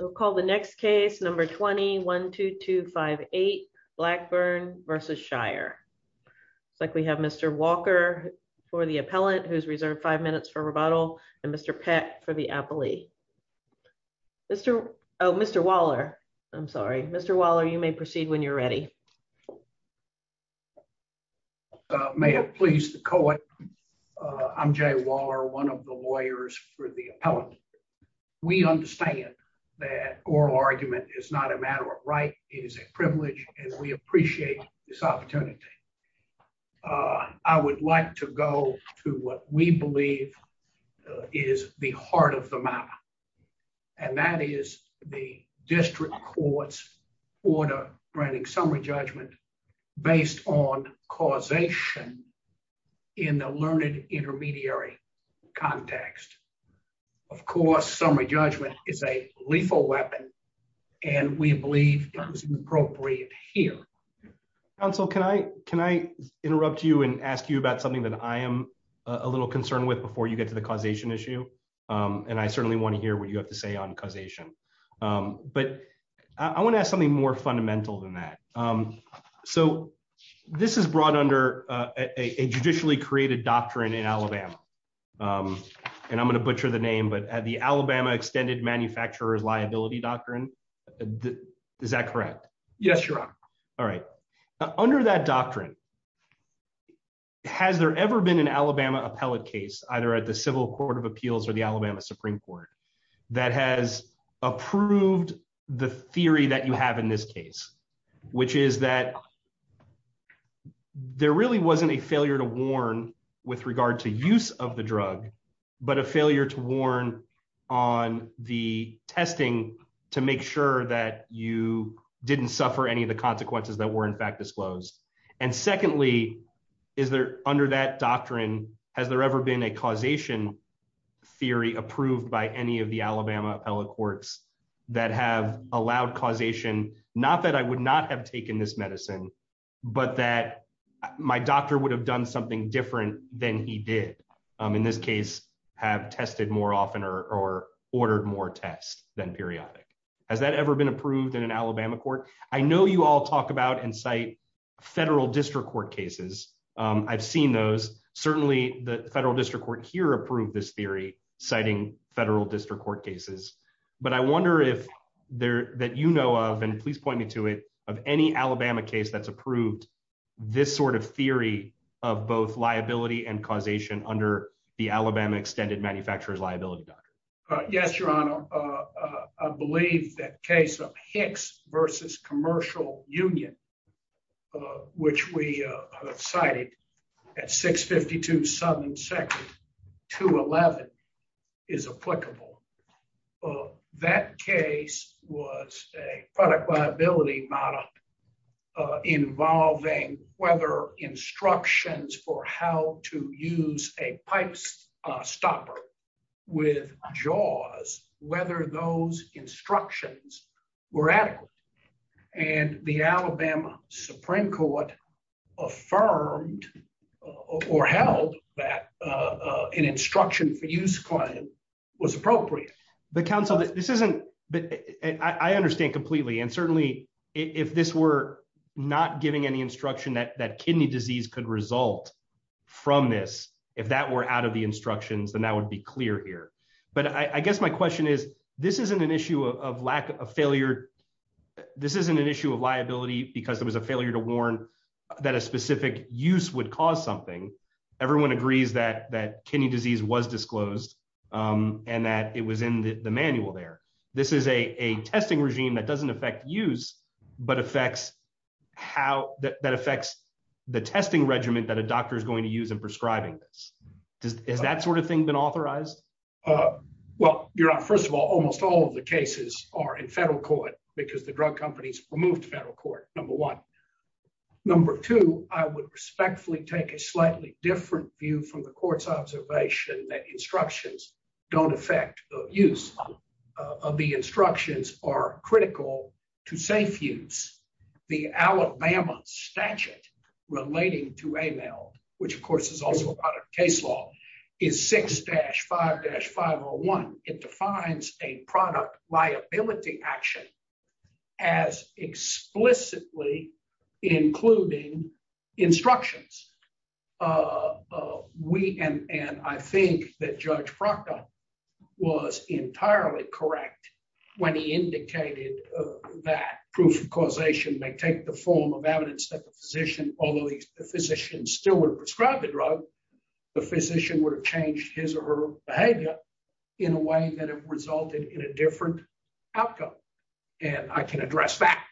We'll call the next case, number 20-1-2258, Blackburn v. Shire. Looks like we have Mr. Walker for the appellant, who's reserved five minutes for rebuttal, and Mr. Peck for the appellee. Mr., oh, Mr. Waller, I'm sorry. Mr. Waller, you may proceed when you're ready. May it please the court, I'm Jay Waller, one of the lawyers for the appellant. We understand that oral argument is not a matter of right, it is a privilege, and we appreciate this opportunity. I would like to go to what we believe is the heart of the matter, and that is the district court's order granting summary judgment based on causation in the learned intermediary context. Of course, summary judgment is a lethal weapon, and we believe it is appropriate here. Counsel, can I interrupt you and ask you about something that I am a little concerned with before you get to the causation issue? And I certainly wanna hear what you have to say on causation. But I wanna ask something more fundamental than that. So this is brought under a judicially created doctrine in Alabama, and I'm gonna butcher the name, but the Alabama Extended Manufacturer's Liability Doctrine, is that correct? Yes, Your Honor. All right, under that doctrine, has there ever been an Alabama appellate case, either at the Civil Court of Appeals or the Alabama Supreme Court, that has approved the theory that you have in this case, which is that there really wasn't a failure to warn with regard to use of the drug, but a failure to warn on the testing to make sure that you didn't suffer any of the consequences that were in fact disclosed? And secondly, under that doctrine, has there ever been a causation theory approved by any of the Alabama appellate courts not that I would not have taken this medicine, but that my doctor would have done something different than he did, in this case, have tested more often or ordered more tests than periodic? Has that ever been approved in an Alabama court? I know you all talk about and cite federal district court cases. I've seen those. Certainly the federal district court here approved this theory, citing federal district court cases. But I wonder if that you know of, and please point me to it, of any Alabama case that's approved this sort of theory of both liability and causation under the Alabama Extended Manufacturer's Liability Doctrine. Yes, Your Honor. I believe that case of Hicks versus Commercial Union, which we cited at 652 Southern 211 is applicable. Well, that case was a product liability model involving whether instructions for how to use a pipe stopper with jaws, whether those instructions were adequate. And the Alabama Supreme Court affirmed or held that an instruction for use was appropriate. But counsel, this isn't, I understand completely. And certainly if this were not giving any instruction that kidney disease could result from this, if that were out of the instructions, then that would be clear here. But I guess my question is, this isn't an issue of lack of failure. This isn't an issue of liability because there was a failure to warn that a specific use would cause something. Everyone agrees that kidney disease was disclosed and that it was in the manual there. This is a testing regime that doesn't affect use, but that affects the testing regimen that a doctor is going to use in prescribing this. Has that sort of thing been authorized? Well, Your Honor, first of all, almost all of the cases are in federal court because the drug companies removed federal court, number one. Number two, I would respectfully take a slightly different view from the court's observation that instructions don't affect use. Of the instructions are critical to safe use. The Alabama statute relating to AML, which of course is also a part of case law, is 6-5-501. It defines a product liability action as explicitly including instructions. And I think that Judge Proctor was entirely correct when he indicated that proof of causation may take the form of evidence that the physician, although the physician still would prescribe the drug, the physician would have changed his or her behavior in a way that it resulted in a different outcome. And I can address that.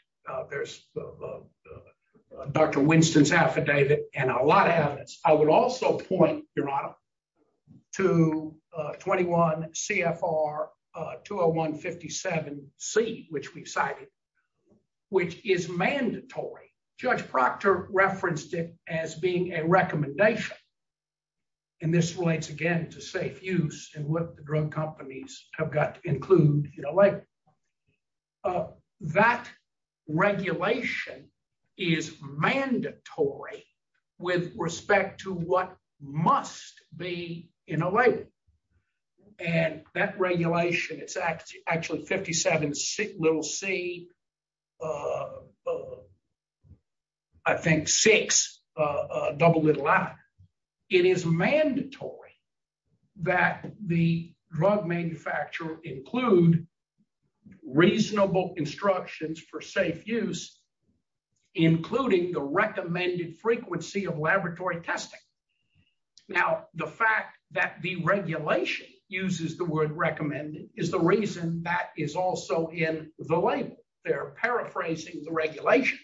There's Dr. Winston's affidavit and a lot of evidence. I would also point, Your Honor, to 21 CFR 201-57C, which we've cited, which is mandatory. Judge Proctor referenced it as being a recommendation. And this relates again to safe use and what the drug companies have got to include in a label. That regulation is mandatory with respect to what must be in a label. And that regulation, it's actually 57 little c, I think six double little i. It is mandatory that the drug manufacturer include reasonable instructions for safe use, including the recommended frequency of laboratory testing. Now, the fact that the regulation uses the word recommended is the reason that is also in the label. They're paraphrasing the regulation,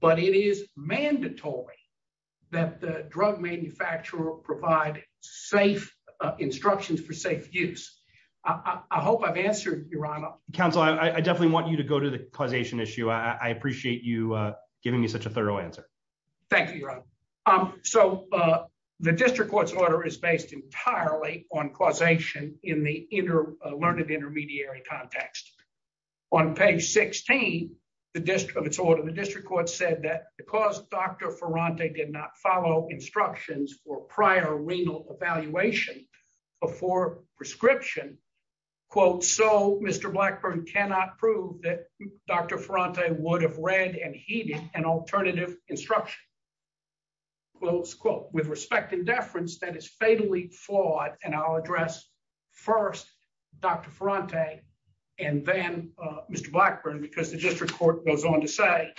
but it is mandatory that the drug manufacturer provide safe instructions for safe use. I hope I've answered, Your Honor. Counsel, I definitely want you to go to the causation issue. I appreciate you giving me such a thorough answer. Thank you, Your Honor. So the district court's order is based entirely on causation in the learned intermediary context. On page 16 of its order, the district court said that because Dr. Ferrante did not follow instructions for prior renal evaluation before prescription, quote, so Mr. Blackburn cannot prove that Dr. Ferrante would have read and heeded an alternative instruction, close quote. With respect and deference that is fatally flawed and I'll address first Dr. Ferrante and then Mr. Blackburn because the district court goes on to say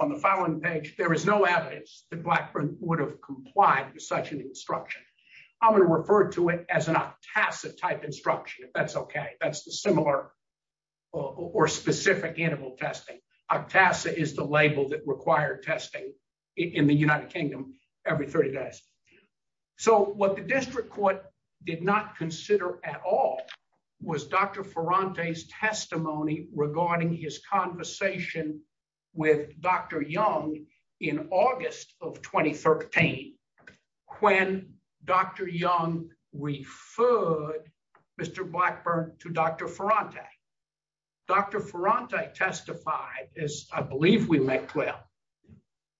on the following page, there is no evidence that Blackburn would have complied with such an instruction. I'm gonna refer to it as an OCTASA type instruction if that's okay. That's the similar or specific animal testing. OCTASA is the label that required testing in the United Kingdom every 30 days. So what the district court did not consider at all was Dr. Ferrante's testimony regarding his conversation with Dr. Young in August of 2013 when Dr. Young referred Mr. Blackburn to Dr. Ferrante. Dr. Ferrante testified, as I believe we make clear,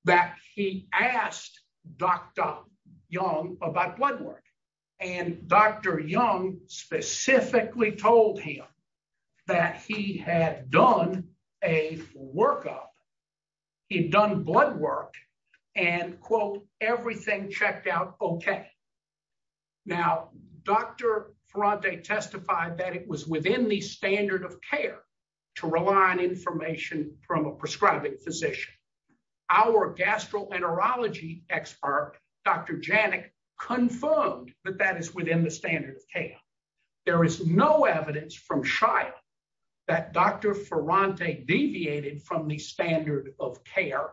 that he asked Dr. Young about blood work and Dr. Young specifically told him that he had done a workup, he'd done blood work and quote, everything checked out okay. Now, Dr. Ferrante testified that it was within the standard of care to rely on information from a prescribing physician. Our gastroenterology expert, Dr. Janik confirmed that that is within the standard of care. There is no evidence from Shia that Dr. Ferrante deviated from the standard of care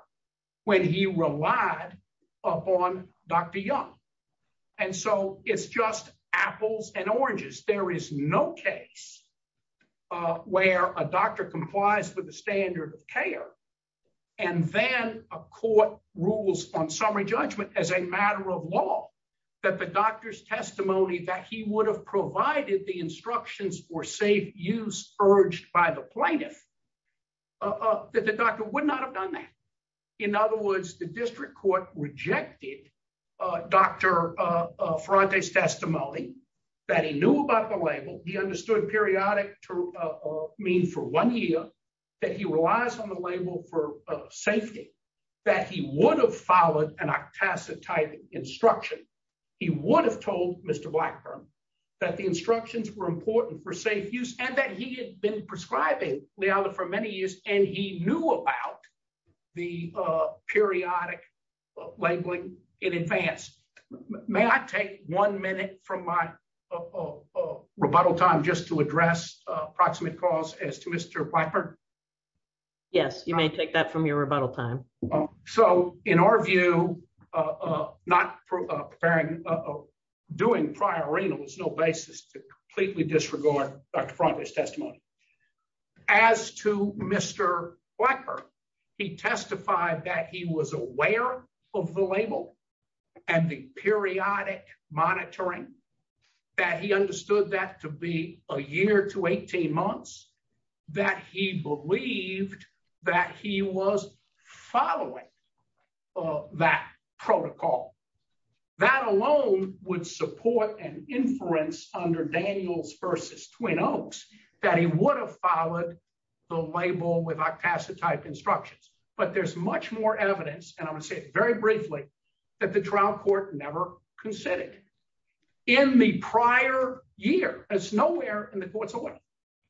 when he relied upon Dr. Young. And so it's just apples and oranges. There is no case where a doctor complies with the standard of care and then a court rules on summary judgment as a matter of law that the doctor's testimony that he would have provided the instructions for safe use urged by the plaintiff, that the doctor would not have done that. In other words, the district court rejected Dr. Ferrante's testimony, that he knew about the label, he understood periodic to mean for one year that he relies on the label for safety, that he would have followed an octacetide instruction. He would have told Mr. Blackburn that the instructions were important for safe use and that he had been prescribing Liala for many years and he knew about the periodic labeling in advance. May I take one minute from my rebuttal time just to address approximate cause as to Mr. Blackburn? Yes, you may take that from your rebuttal time. So in our view, not preparing, doing prior renal is no basis to completely disregard Dr. Ferrante's testimony. As to Mr. Blackburn, he testified that he was aware of the label and the periodic monitoring, that he understood that to be a year to 18 months, that he believed that he was following that protocol. That alone would support an inference under Daniels versus Twin Oaks, that he would have followed the label with octacetide instructions. But there's much more evidence, and I'm gonna say it very briefly, that the trial court never considered. In the prior year, it's nowhere in the court's oil,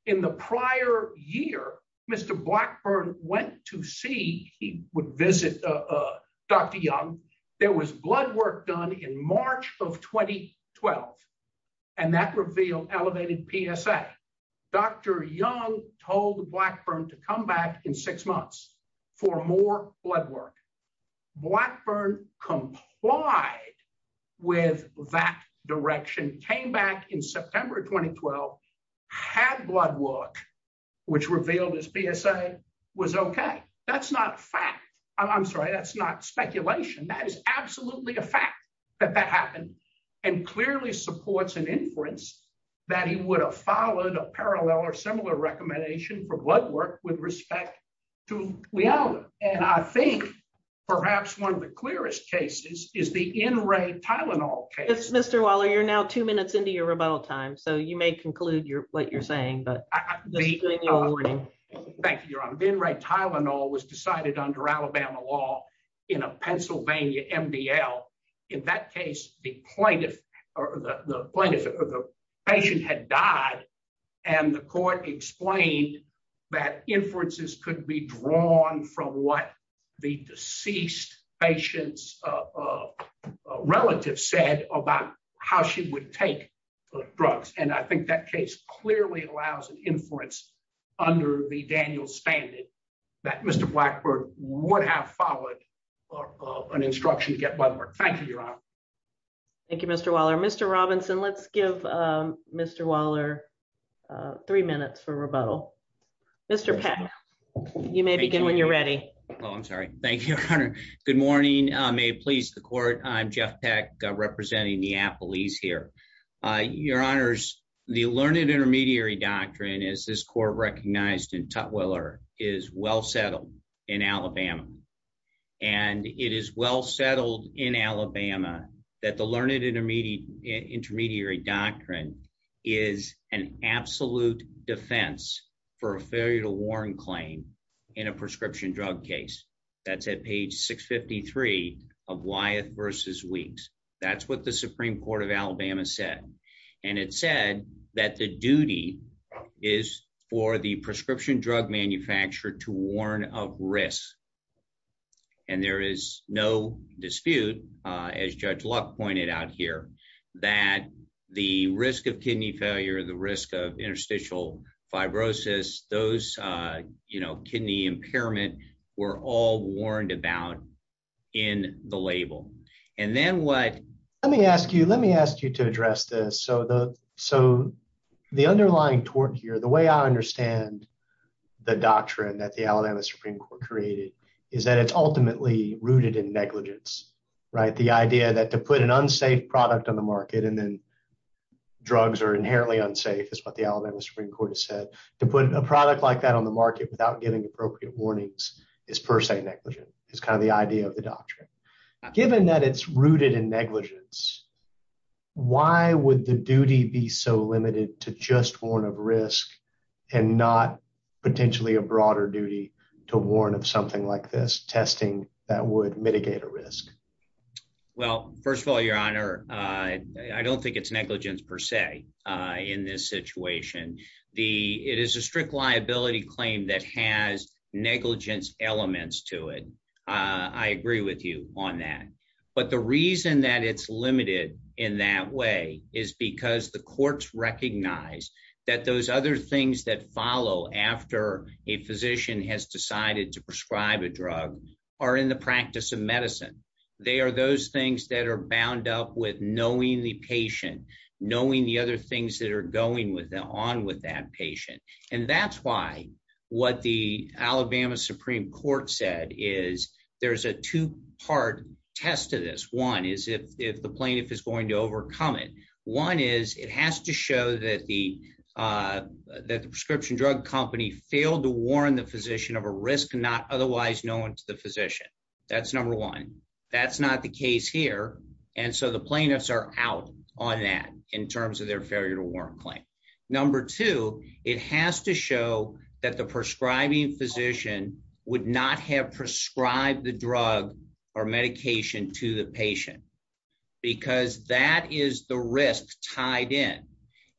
in the prior year, Mr. Blackburn went to see, he would visit Dr. Young, there was blood work done in March of 2012 and that revealed elevated PSA. Dr. Young told Blackburn to come back in six months for more blood work. Blackburn complied with that direction, came back in September of 2012, had blood work, which revealed his PSA was okay. That's not fact. I'm sorry, that's not speculation. That is absolutely a fact that that happened and clearly supports an inference that he would have followed a parallel or similar recommendation for blood work with respect to Leona. And I think perhaps one of the clearest cases is the NRA Tylenol case. Mr. Waller, you're now two minutes into your rebuttal time, so you may conclude what you're saying, but just to give you a warning. Thank you, Your Honor. The NRA Tylenol was decided under Alabama law in a Pennsylvania MDL. In that case, the patient had died and the court explained that inferences could be drawn from what the deceased patient's relative said about how she would take drugs. And I think that case clearly allows an inference under the Daniels Bandit that Mr. Blackburn would have followed an instruction to get blood work. Thank you, Your Honor. Thank you, Mr. Waller. Mr. Robinson, let's give Mr. Waller three minutes for rebuttal. Mr. Peck, you may begin when you're ready. Oh, I'm sorry. Thank you, Your Honor. Good morning. May it please the court. I'm Jeff Peck, representing Neapolis here. Your Honors, the learned intermediary doctrine as this court recognized in Tutwiler is well settled in Alabama. And it is well settled in Alabama that the learned intermediary doctrine is an absolute defense for a failure to warn claim in a prescription drug case. That's at page 653 of Wyeth v. Weeks. That's what the Supreme Court of Alabama said. And it said that the duty is for the prescription drug manufacturer to warn of risk. And there is no dispute, as Judge Luck pointed out here, that the risk of kidney failure, the risk of interstitial fibrosis, those kidney impairment were all warned about in the label. And then what- Let me ask you to address this. So the underlying tort here, the way I understand the doctrine that the Alabama Supreme Court created is that it's ultimately rooted in negligence, right? The idea that to put an unsafe product on the market and then drugs are inherently unsafe is what the Alabama Supreme Court has said. To put a product like that on the market without giving appropriate warnings is per se negligent. It's kind of the idea of the doctrine. Given that it's rooted in negligence, why would the duty be so limited to just warn of risk and not potentially a broader duty to warn of something like this testing that would mitigate a risk? Well, first of all, Your Honor, I don't think it's negligence per se in this situation. It is a strict liability claim that has negligence elements to it. I agree with you on that. But the reason that it's limited in that way is because the courts recognize that those other things that follow after a physician has decided to prescribe a drug are in the practice of medicine. They are those things that are bound up with knowing the patient, knowing the other things that are going on with that patient. And that's why what the Alabama Supreme Court said is there's a two-part test to this. One is if the plaintiff is going to overcome it. One is it has to show that the prescription drug company failed to warn the physician of a risk not otherwise known to the physician. That's number one. That's not the case here. And so the plaintiffs are out on that in terms of their failure to warn claim. Number two, it has to show that the prescribing physician would not have prescribed the drug or medication to the patient because that is the risk tied in.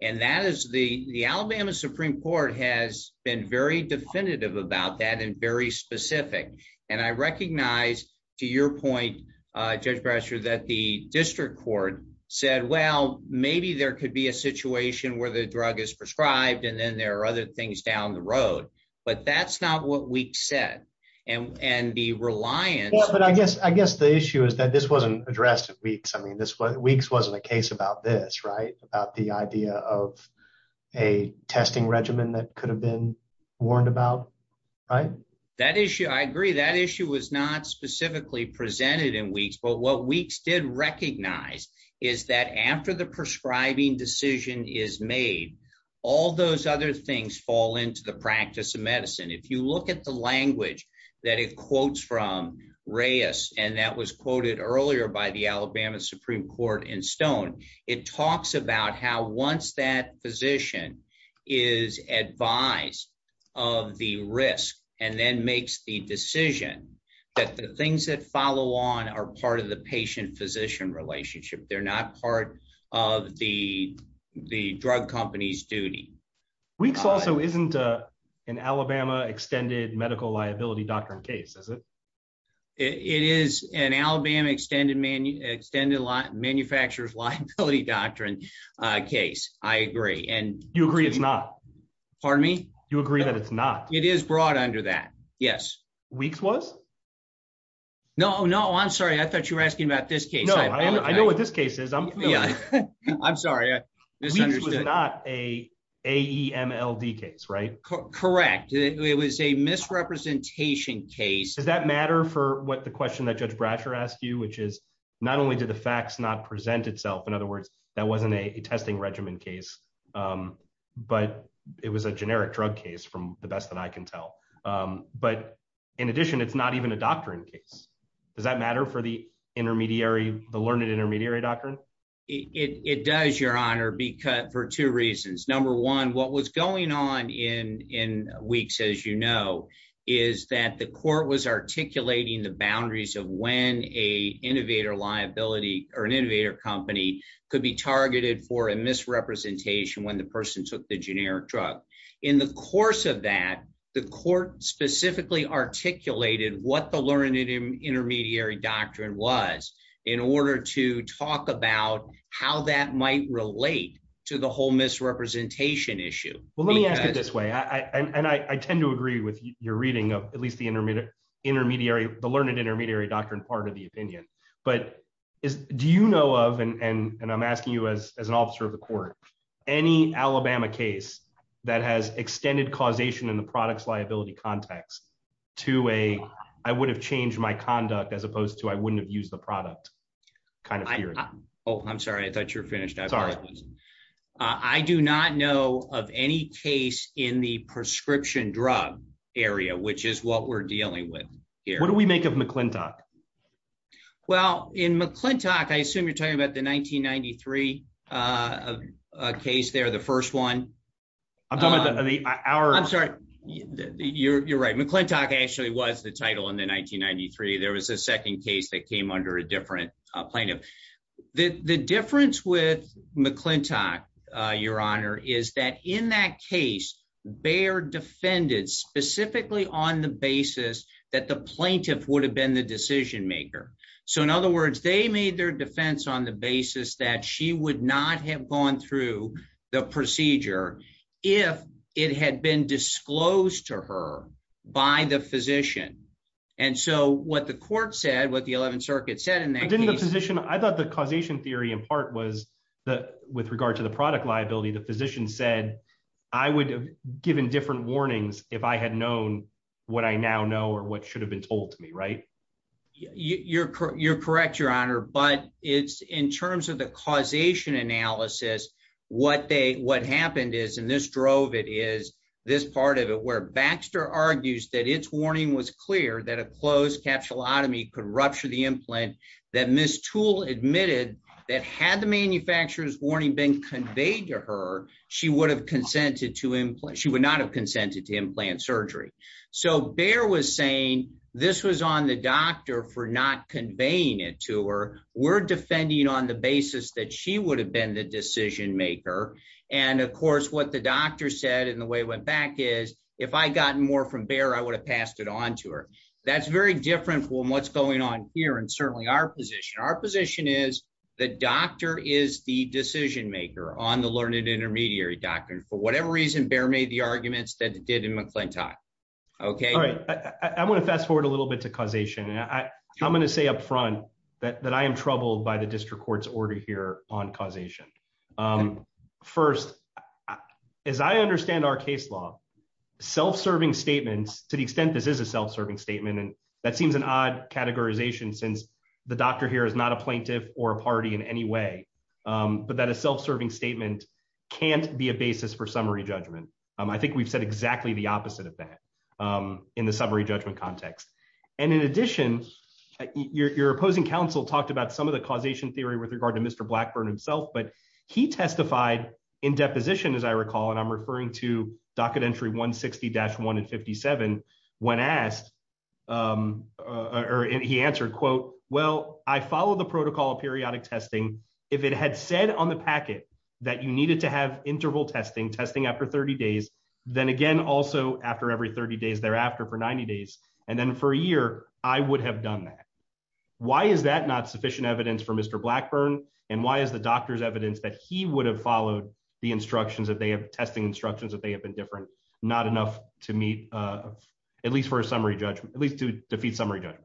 And the Alabama Supreme Court has been very definitive about that and very specific. And I recognize to your point, Judge Brasher, that the district court said, well, maybe there could be a situation where the drug is prescribed and then there are other things down the road, but that's not what we've said. And the reliance- I mean, Weeks wasn't a case about this, right? About the idea of a testing regimen that could have been warned about, right? That issue, I agree. That issue was not specifically presented in Weeks, but what Weeks did recognize is that after the prescribing decision is made, all those other things fall into the practice of medicine. If you look at the language that it quotes from Reyes, and that was quoted earlier by the Alabama Supreme Court in Stone, it talks about how once that physician is advised of the risk and then makes the decision that the things that follow on are part of the patient-physician relationship. They're not part of the drug company's duty. Weeks also isn't an Alabama extended medical liability doctrine case, is it? It is an Alabama extended manufacturers liability doctrine case, I agree. You agree it's not? Pardon me? You agree that it's not? It is brought under that, yes. Weeks was? No, no, I'm sorry. I thought you were asking about this case. No, I know what this case is. I'm familiar. I'm sorry, I misunderstood. Weeks was not a AEMLD case, right? Correct, it was a misrepresentation case. Does that matter for what the question that Judge Brasher asked you, which is not only did the facts not present itself, in other words, that wasn't a testing regimen case, but it was a generic drug case from the best that I can tell. But in addition, it's not even a doctrine case. Does that matter for the learned intermediary doctrine? It does, Your Honor, for two reasons. Number one, what was going on in Weeks, as you know, is that the court was articulating the boundaries of when a innovator liability or an innovator company could be targeted for a misrepresentation when the person took the generic drug. In the course of that, the court specifically articulated what the learned intermediary doctrine was in order to talk about how that might relate to the whole misrepresentation issue. Well, let me ask it this way, and I tend to agree with your reading of at least the learned intermediary doctrine part of the opinion, but do you know of, and I'm asking you as an officer of the court, any Alabama case that has extended causation in the products liability context to a I would have changed my conduct as opposed to I wouldn't have used the product kind of theory? Oh, I'm sorry, I thought you were finished. I apologize. Sorry. I do not know of any case in the prescription drug area, which is what we're dealing with here. What do we make of McClintock? Well, in McClintock, I assume you're talking about the 1993 case there, the first one. I'm talking about the hour. I'm sorry, you're right. McClintock actually was the title in the 1993. There was a second case that came under a different plaintiff. The difference with McClintock, your honor, is that in that case, Bayer defended specifically on the basis that the plaintiff would have been the decision maker. So in other words, they made their defense on the basis that she would not have gone through the procedure if it had been disclosed to her by the physician. And so what the court said, what the 11th circuit said in that case- I thought the causation theory in part was that with regard to the product liability, the physician said I would have given different warnings if I had known what I now know or what should have been told to me, right? You're correct, your honor. But it's in terms of the causation analysis, what happened is, and this drove it, is this part of it where Baxter argues that its warning was clear that a closed capsulotomy could rupture the implant, that Ms. Toole admitted that had the manufacturer's warning been conveyed to her, she would not have consented to implant surgery. So Bayer was saying this was on the doctor for not conveying it to her. We're defending on the basis that she would have been the decision maker. And of course, what the doctor said and the way it went back is, if I had gotten more from Bayer, I would have passed it on to her. That's very different from what's going on here and certainly our position. Our position is the doctor is the decision maker on the learned intermediary doctrine. For whatever reason, Bayer made the arguments that it did in McClintock. Okay? All right, I wanna fast forward a little bit to causation. And I'm gonna say upfront that I am troubled by the district court's order here on causation. First, as I understand our case law, self-serving statements, to the extent this is a self-serving statement, and that seems an odd categorization since the doctor here is not a plaintiff or a party in any way, but that a self-serving statement can't be a basis for summary judgment. I think we've said exactly the opposite of that in the summary judgment context. And in addition, your opposing counsel talked about some of the causation theory with regard to Mr. Blackburn himself, but he testified in deposition, as I recall, and I'm referring to docket entry 160-157, when asked, or he answered, quote, well, I followed the protocol of periodic testing. If it had said on the packet that you needed to have interval testing, testing after 30 days, then again, also after every 30 days thereafter for 90 days, and then for a year, I would have done that. Why is that not sufficient evidence for Mr. Blackburn? And why is the doctor's evidence that he would have followed the instructions that they have, testing instructions that they have been different, not enough to meet, at least for a summary judgment, at least to defeat summary judgment?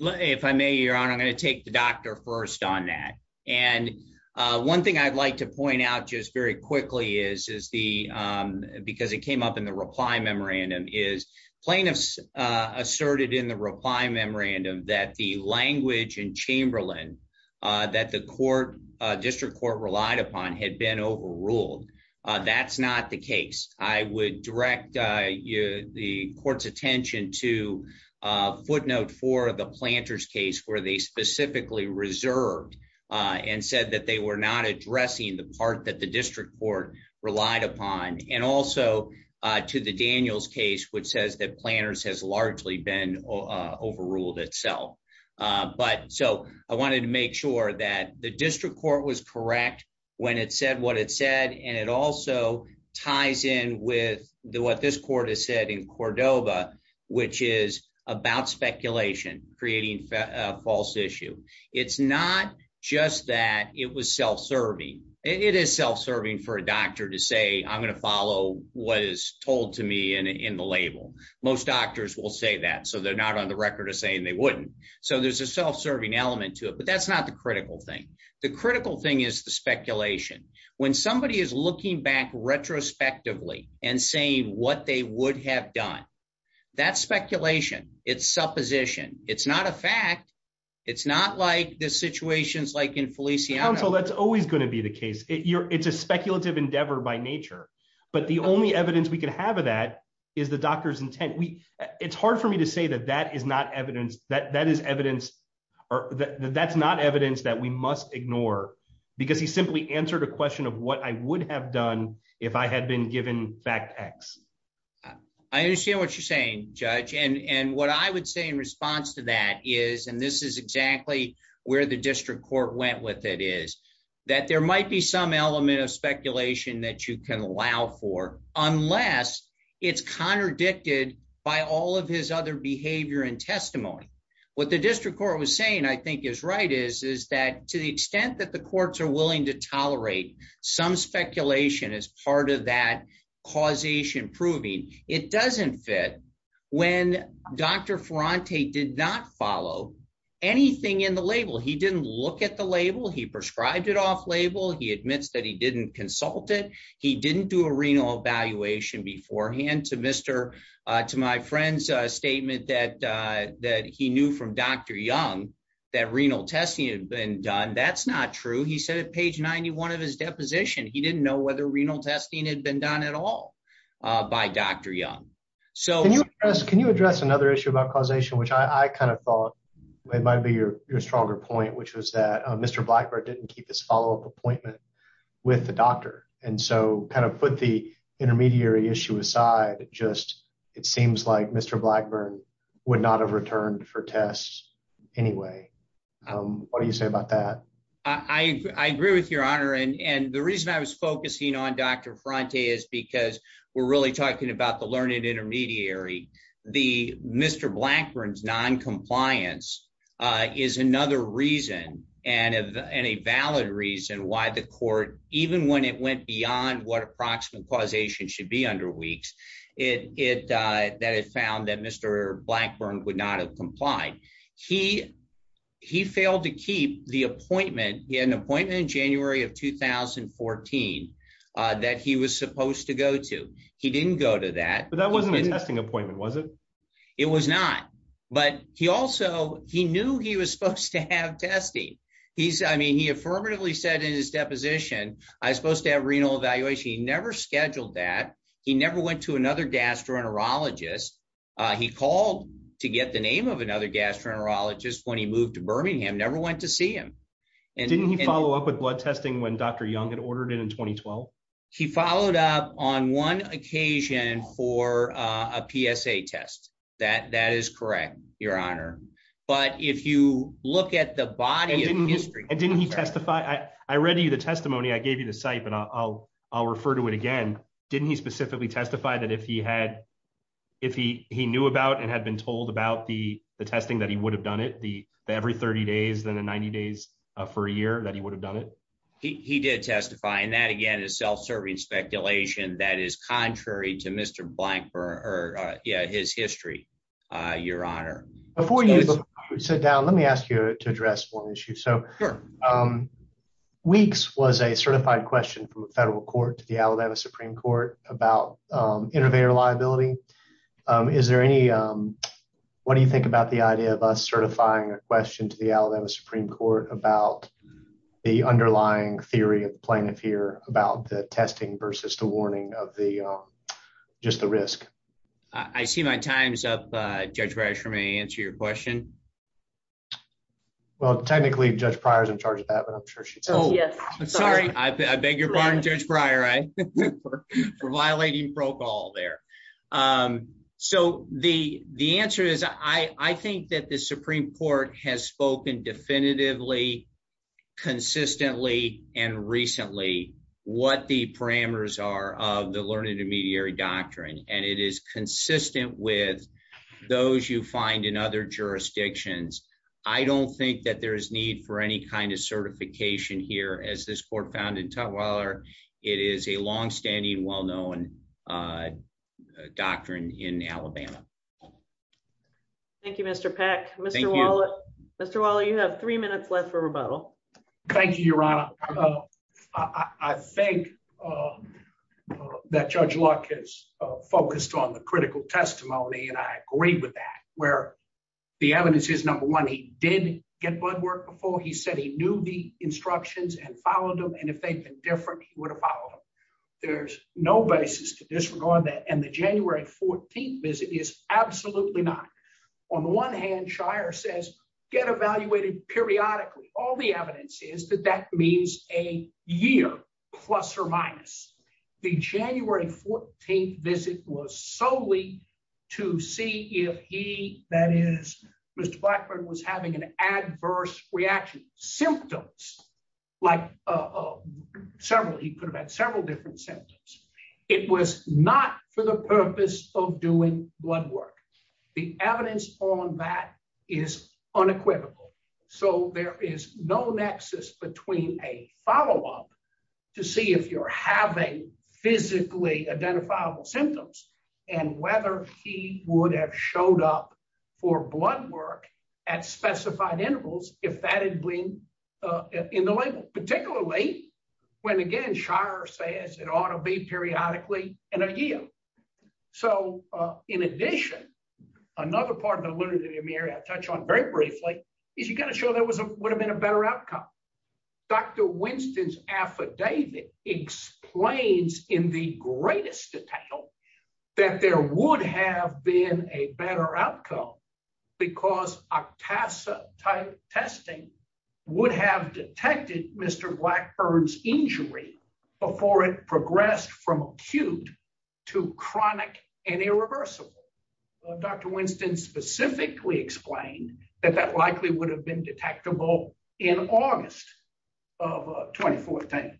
If I may, your honor, I'm gonna take the doctor first on that. And one thing I'd like to point out just very quickly is the, because it came up in the reply memorandum, is plaintiffs asserted in the reply memorandum that the language in Chamberlain that the district court relied upon had been overruled. That's not the case. I would direct the court's attention to a footnote for the Planters case where they specifically reserved and said that they were not addressing the part that the district court relied upon. And also to the Daniels case, which says that Planters has largely been overruled itself. But so I wanted to make sure that the district court was correct when it said what it said, and it also ties in with what this court has said in Cordova, which is about speculation, creating a false issue. It's not just that it was self-serving. It is self-serving for a doctor to say, I'm gonna follow what is told to me in the label. Most doctors will say that, so they're not on the record of saying they wouldn't. So there's a self-serving element to it, but that's not the critical thing. The critical thing is the speculation. When somebody is looking back retrospectively and saying what they would have done, that's speculation, it's supposition. It's not a fact. It's not like the situations like in Feliciano. Council, that's always gonna be the case. It's a speculative endeavor by nature, but the only evidence we can have of that is the doctor's intent. It's hard for me to say that that is not evidence, that is evidence, that's not evidence that we must ignore because he simply answered a question of what I would have done if I had been given fact X. I understand what you're saying, Judge. And what I would say in response to that is, and this is exactly where the district court went with it, is that there might be some element of speculation that you can allow for, unless it's contradicted by all of his other behavior and testimony. What the district court was saying, I think is right, is that to the extent that the courts are willing to tolerate some speculation as part of that causation proving, it doesn't fit when Dr. Ferrante did not follow anything in the label. He didn't look at the label. He prescribed it off-label. He admits that he didn't consult it. He didn't do a renal evaluation beforehand. To my friend's statement that he knew from Dr. Young that renal testing had been done, that's not true. He said at page 91 of his deposition, he didn't know whether renal testing had been done at all by Dr. Young. Can you address another issue about causation, which I kind of thought it might be your stronger point, which was that Mr. Blackburn didn't keep his follow-up appointment with the doctor. And so kind of put the intermediary issue aside, just it seems like Mr. Blackburn would not have returned for tests anyway. What do you say about that? I agree with your honor. And the reason I was focusing on Dr. Ferrante is because we're really talking about the learned intermediary. The Mr. Blackburn's non-compliance is another reason and a valid reason why the court, even when it went beyond what approximate causation should be under weeks, that it found that Mr. Blackburn would not have complied. He failed to keep the appointment. He had an appointment in January of 2014 that he was supposed to go to. He didn't go to that. But that wasn't a testing appointment, was it? It was not, but he also, he knew he was supposed to have testing. I mean, he affirmatively said in his deposition, I was supposed to have renal evaluation. He never scheduled that. He never went to another gastroenterologist. He called to get the name of another gastroenterologist when he moved to Birmingham, never went to see him. And- Didn't he follow up with blood testing when Dr. Young had ordered it in 2012? He followed up on one occasion for a PSA test. That is correct, your honor. But if you look at the body of history- And didn't he testify? I read you the testimony. I gave you the site, but I'll refer to it again. Didn't he specifically testify that if he had, if he knew about and had been told about the testing that he would have done it, the every 30 days than the 90 days for a year that he would have done it? He did testify. And that, again, is self-serving speculation that is contrary to Mr. Blank or his history, your honor. Before you sit down, let me ask you to address one issue. So Weeks was a certified question from the federal court to the Alabama Supreme Court about innovator liability. Is there any, what do you think about the idea of us certifying a question to the Alabama Supreme Court about the underlying theory of plaintiff here about the testing versus the warning of the, just the risk? I see my time's up. Judge Breyer, may I answer your question? Well, technically, Judge Breyer's in charge of that, but I'm sure she- Oh, I'm sorry. I beg your pardon, Judge Breyer. For violating pro quo there. So the answer is, I think that the Supreme Court has spoken definitively, consistently, and recently what the parameters are of the learned intermediary doctrine and it is consistent with those you find in other jurisdictions. I don't think that there is need for any kind of certification here as this court found in Tutwiler. It is a longstanding, well-known doctrine in Alabama. Thank you, Mr. Peck. Mr. Waller. Thank you. Mr. Waller, you have three minutes left for rebuttal. Thank you, Your Honor. I think that Judge Luck has focused on the critical testimony and I agree with that where the evidence is, number one, he did get blood work before. He said he knew the instructions and followed them. And if they'd been different, he would have followed them. There's no basis to disregard that. And the January 14th visit is absolutely not. On the one hand, Shire says, get evaluated periodically. All the evidence is that that means a year, plus or minus. The January 14th visit was solely to see if he, that is, Mr. Blackburn was having an adverse reaction, symptoms like several, he could have had several different symptoms. It was not for the purpose of doing blood work. The evidence on that is unequivocal. So there is no nexus between a follow-up to see if you're having physically identifiable symptoms and whether he would have showed up for blood work at specified intervals if that had been in the label, particularly when, again, Shire says it ought to be periodically in a year. So in addition, another part of the literature that Amiri had touched on very briefly is you gotta show there would have been a better outcome. Dr. Winston's affidavit explains in the greatest detail that there would have been a better outcome because OCTASA testing would have detected Mr. Blackburn's injury before it progressed from acute to chronic and irreversible. Dr. Winston specifically explained that that likely would have been detectable in August of 2014.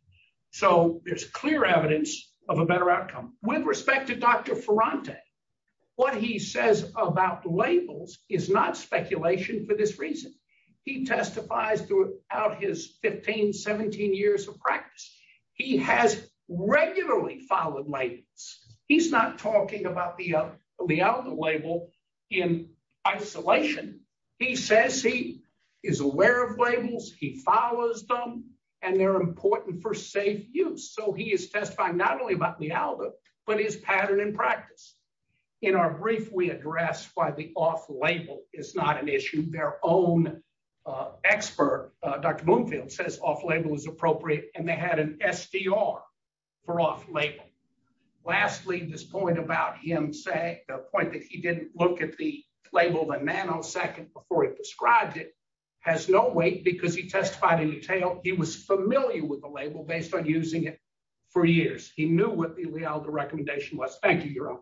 So there's clear evidence of a better outcome. With respect to Dr. Ferrante, what he says about labels is not speculation for this reason. He testifies throughout his 15, 17 years of practice. He has regularly followed labels. He's not talking about the Lealda label in isolation. He says he is aware of labels, he follows them, and they're important for safe use. So he is testifying not only about Lealda, but his pattern in practice. In our brief, we address why the off-label is not an issue. Their own expert, Dr. Bloomfield, says off-label is appropriate, and they had an SDR for off-label. Lastly, this point about him saying, the point that he didn't look at the label, has no weight because he testified in detail. He was familiar with the label based on using it for years. He knew what the Lealda recommendation was. Thank you, Your Honor.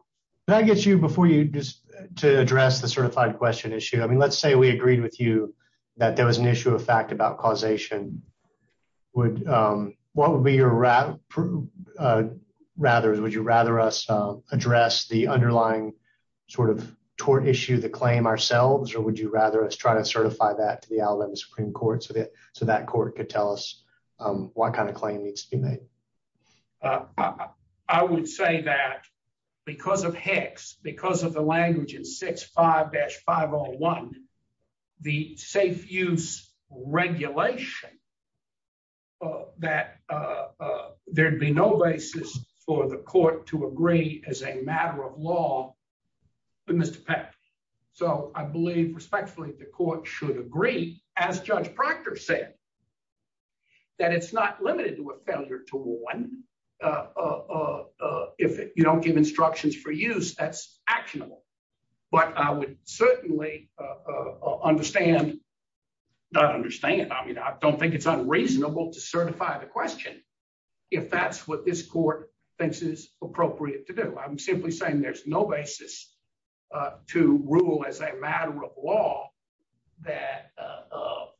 Can I get you, before you just, to address the certified question issue? I mean, let's say we agreed with you that there was an issue of fact about causation. What would be your rather, would you rather us address the underlying sort of tort issue, the claim ourselves, or would you rather us try to certify that to the Alabama Supreme Court so that court could tell us what kind of claim needs to be made? I would say that because of HECS, because of the language in 65-501, the safe use regulation, that there'd be no basis for the court to agree as a matter of law with Mr. Peck. So I believe, respectfully, the court should agree, as Judge Proctor said, that it's not limited to a failure to warn. If you don't give instructions for use, that's actionable. But I would certainly understand, not understand, I mean, I don't think it's unreasonable to certify the question if that's what this court thinks is appropriate to do. I'm simply saying there's no basis to rule as a matter of law that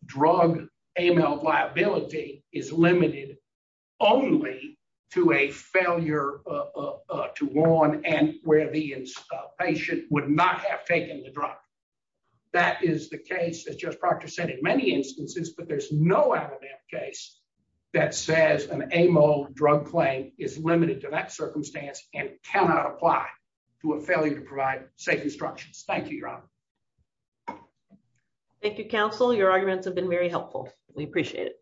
drug AML liability is limited only to a failure to warn and where the patient would not have taken the drug. That is the case, as Judge Proctor said, in many instances, but there's no Alabama case that says an AML drug claim is limited to that circumstance Thank you, Your Honor. Thank you, counsel. Your arguments have been very helpful. We appreciate it.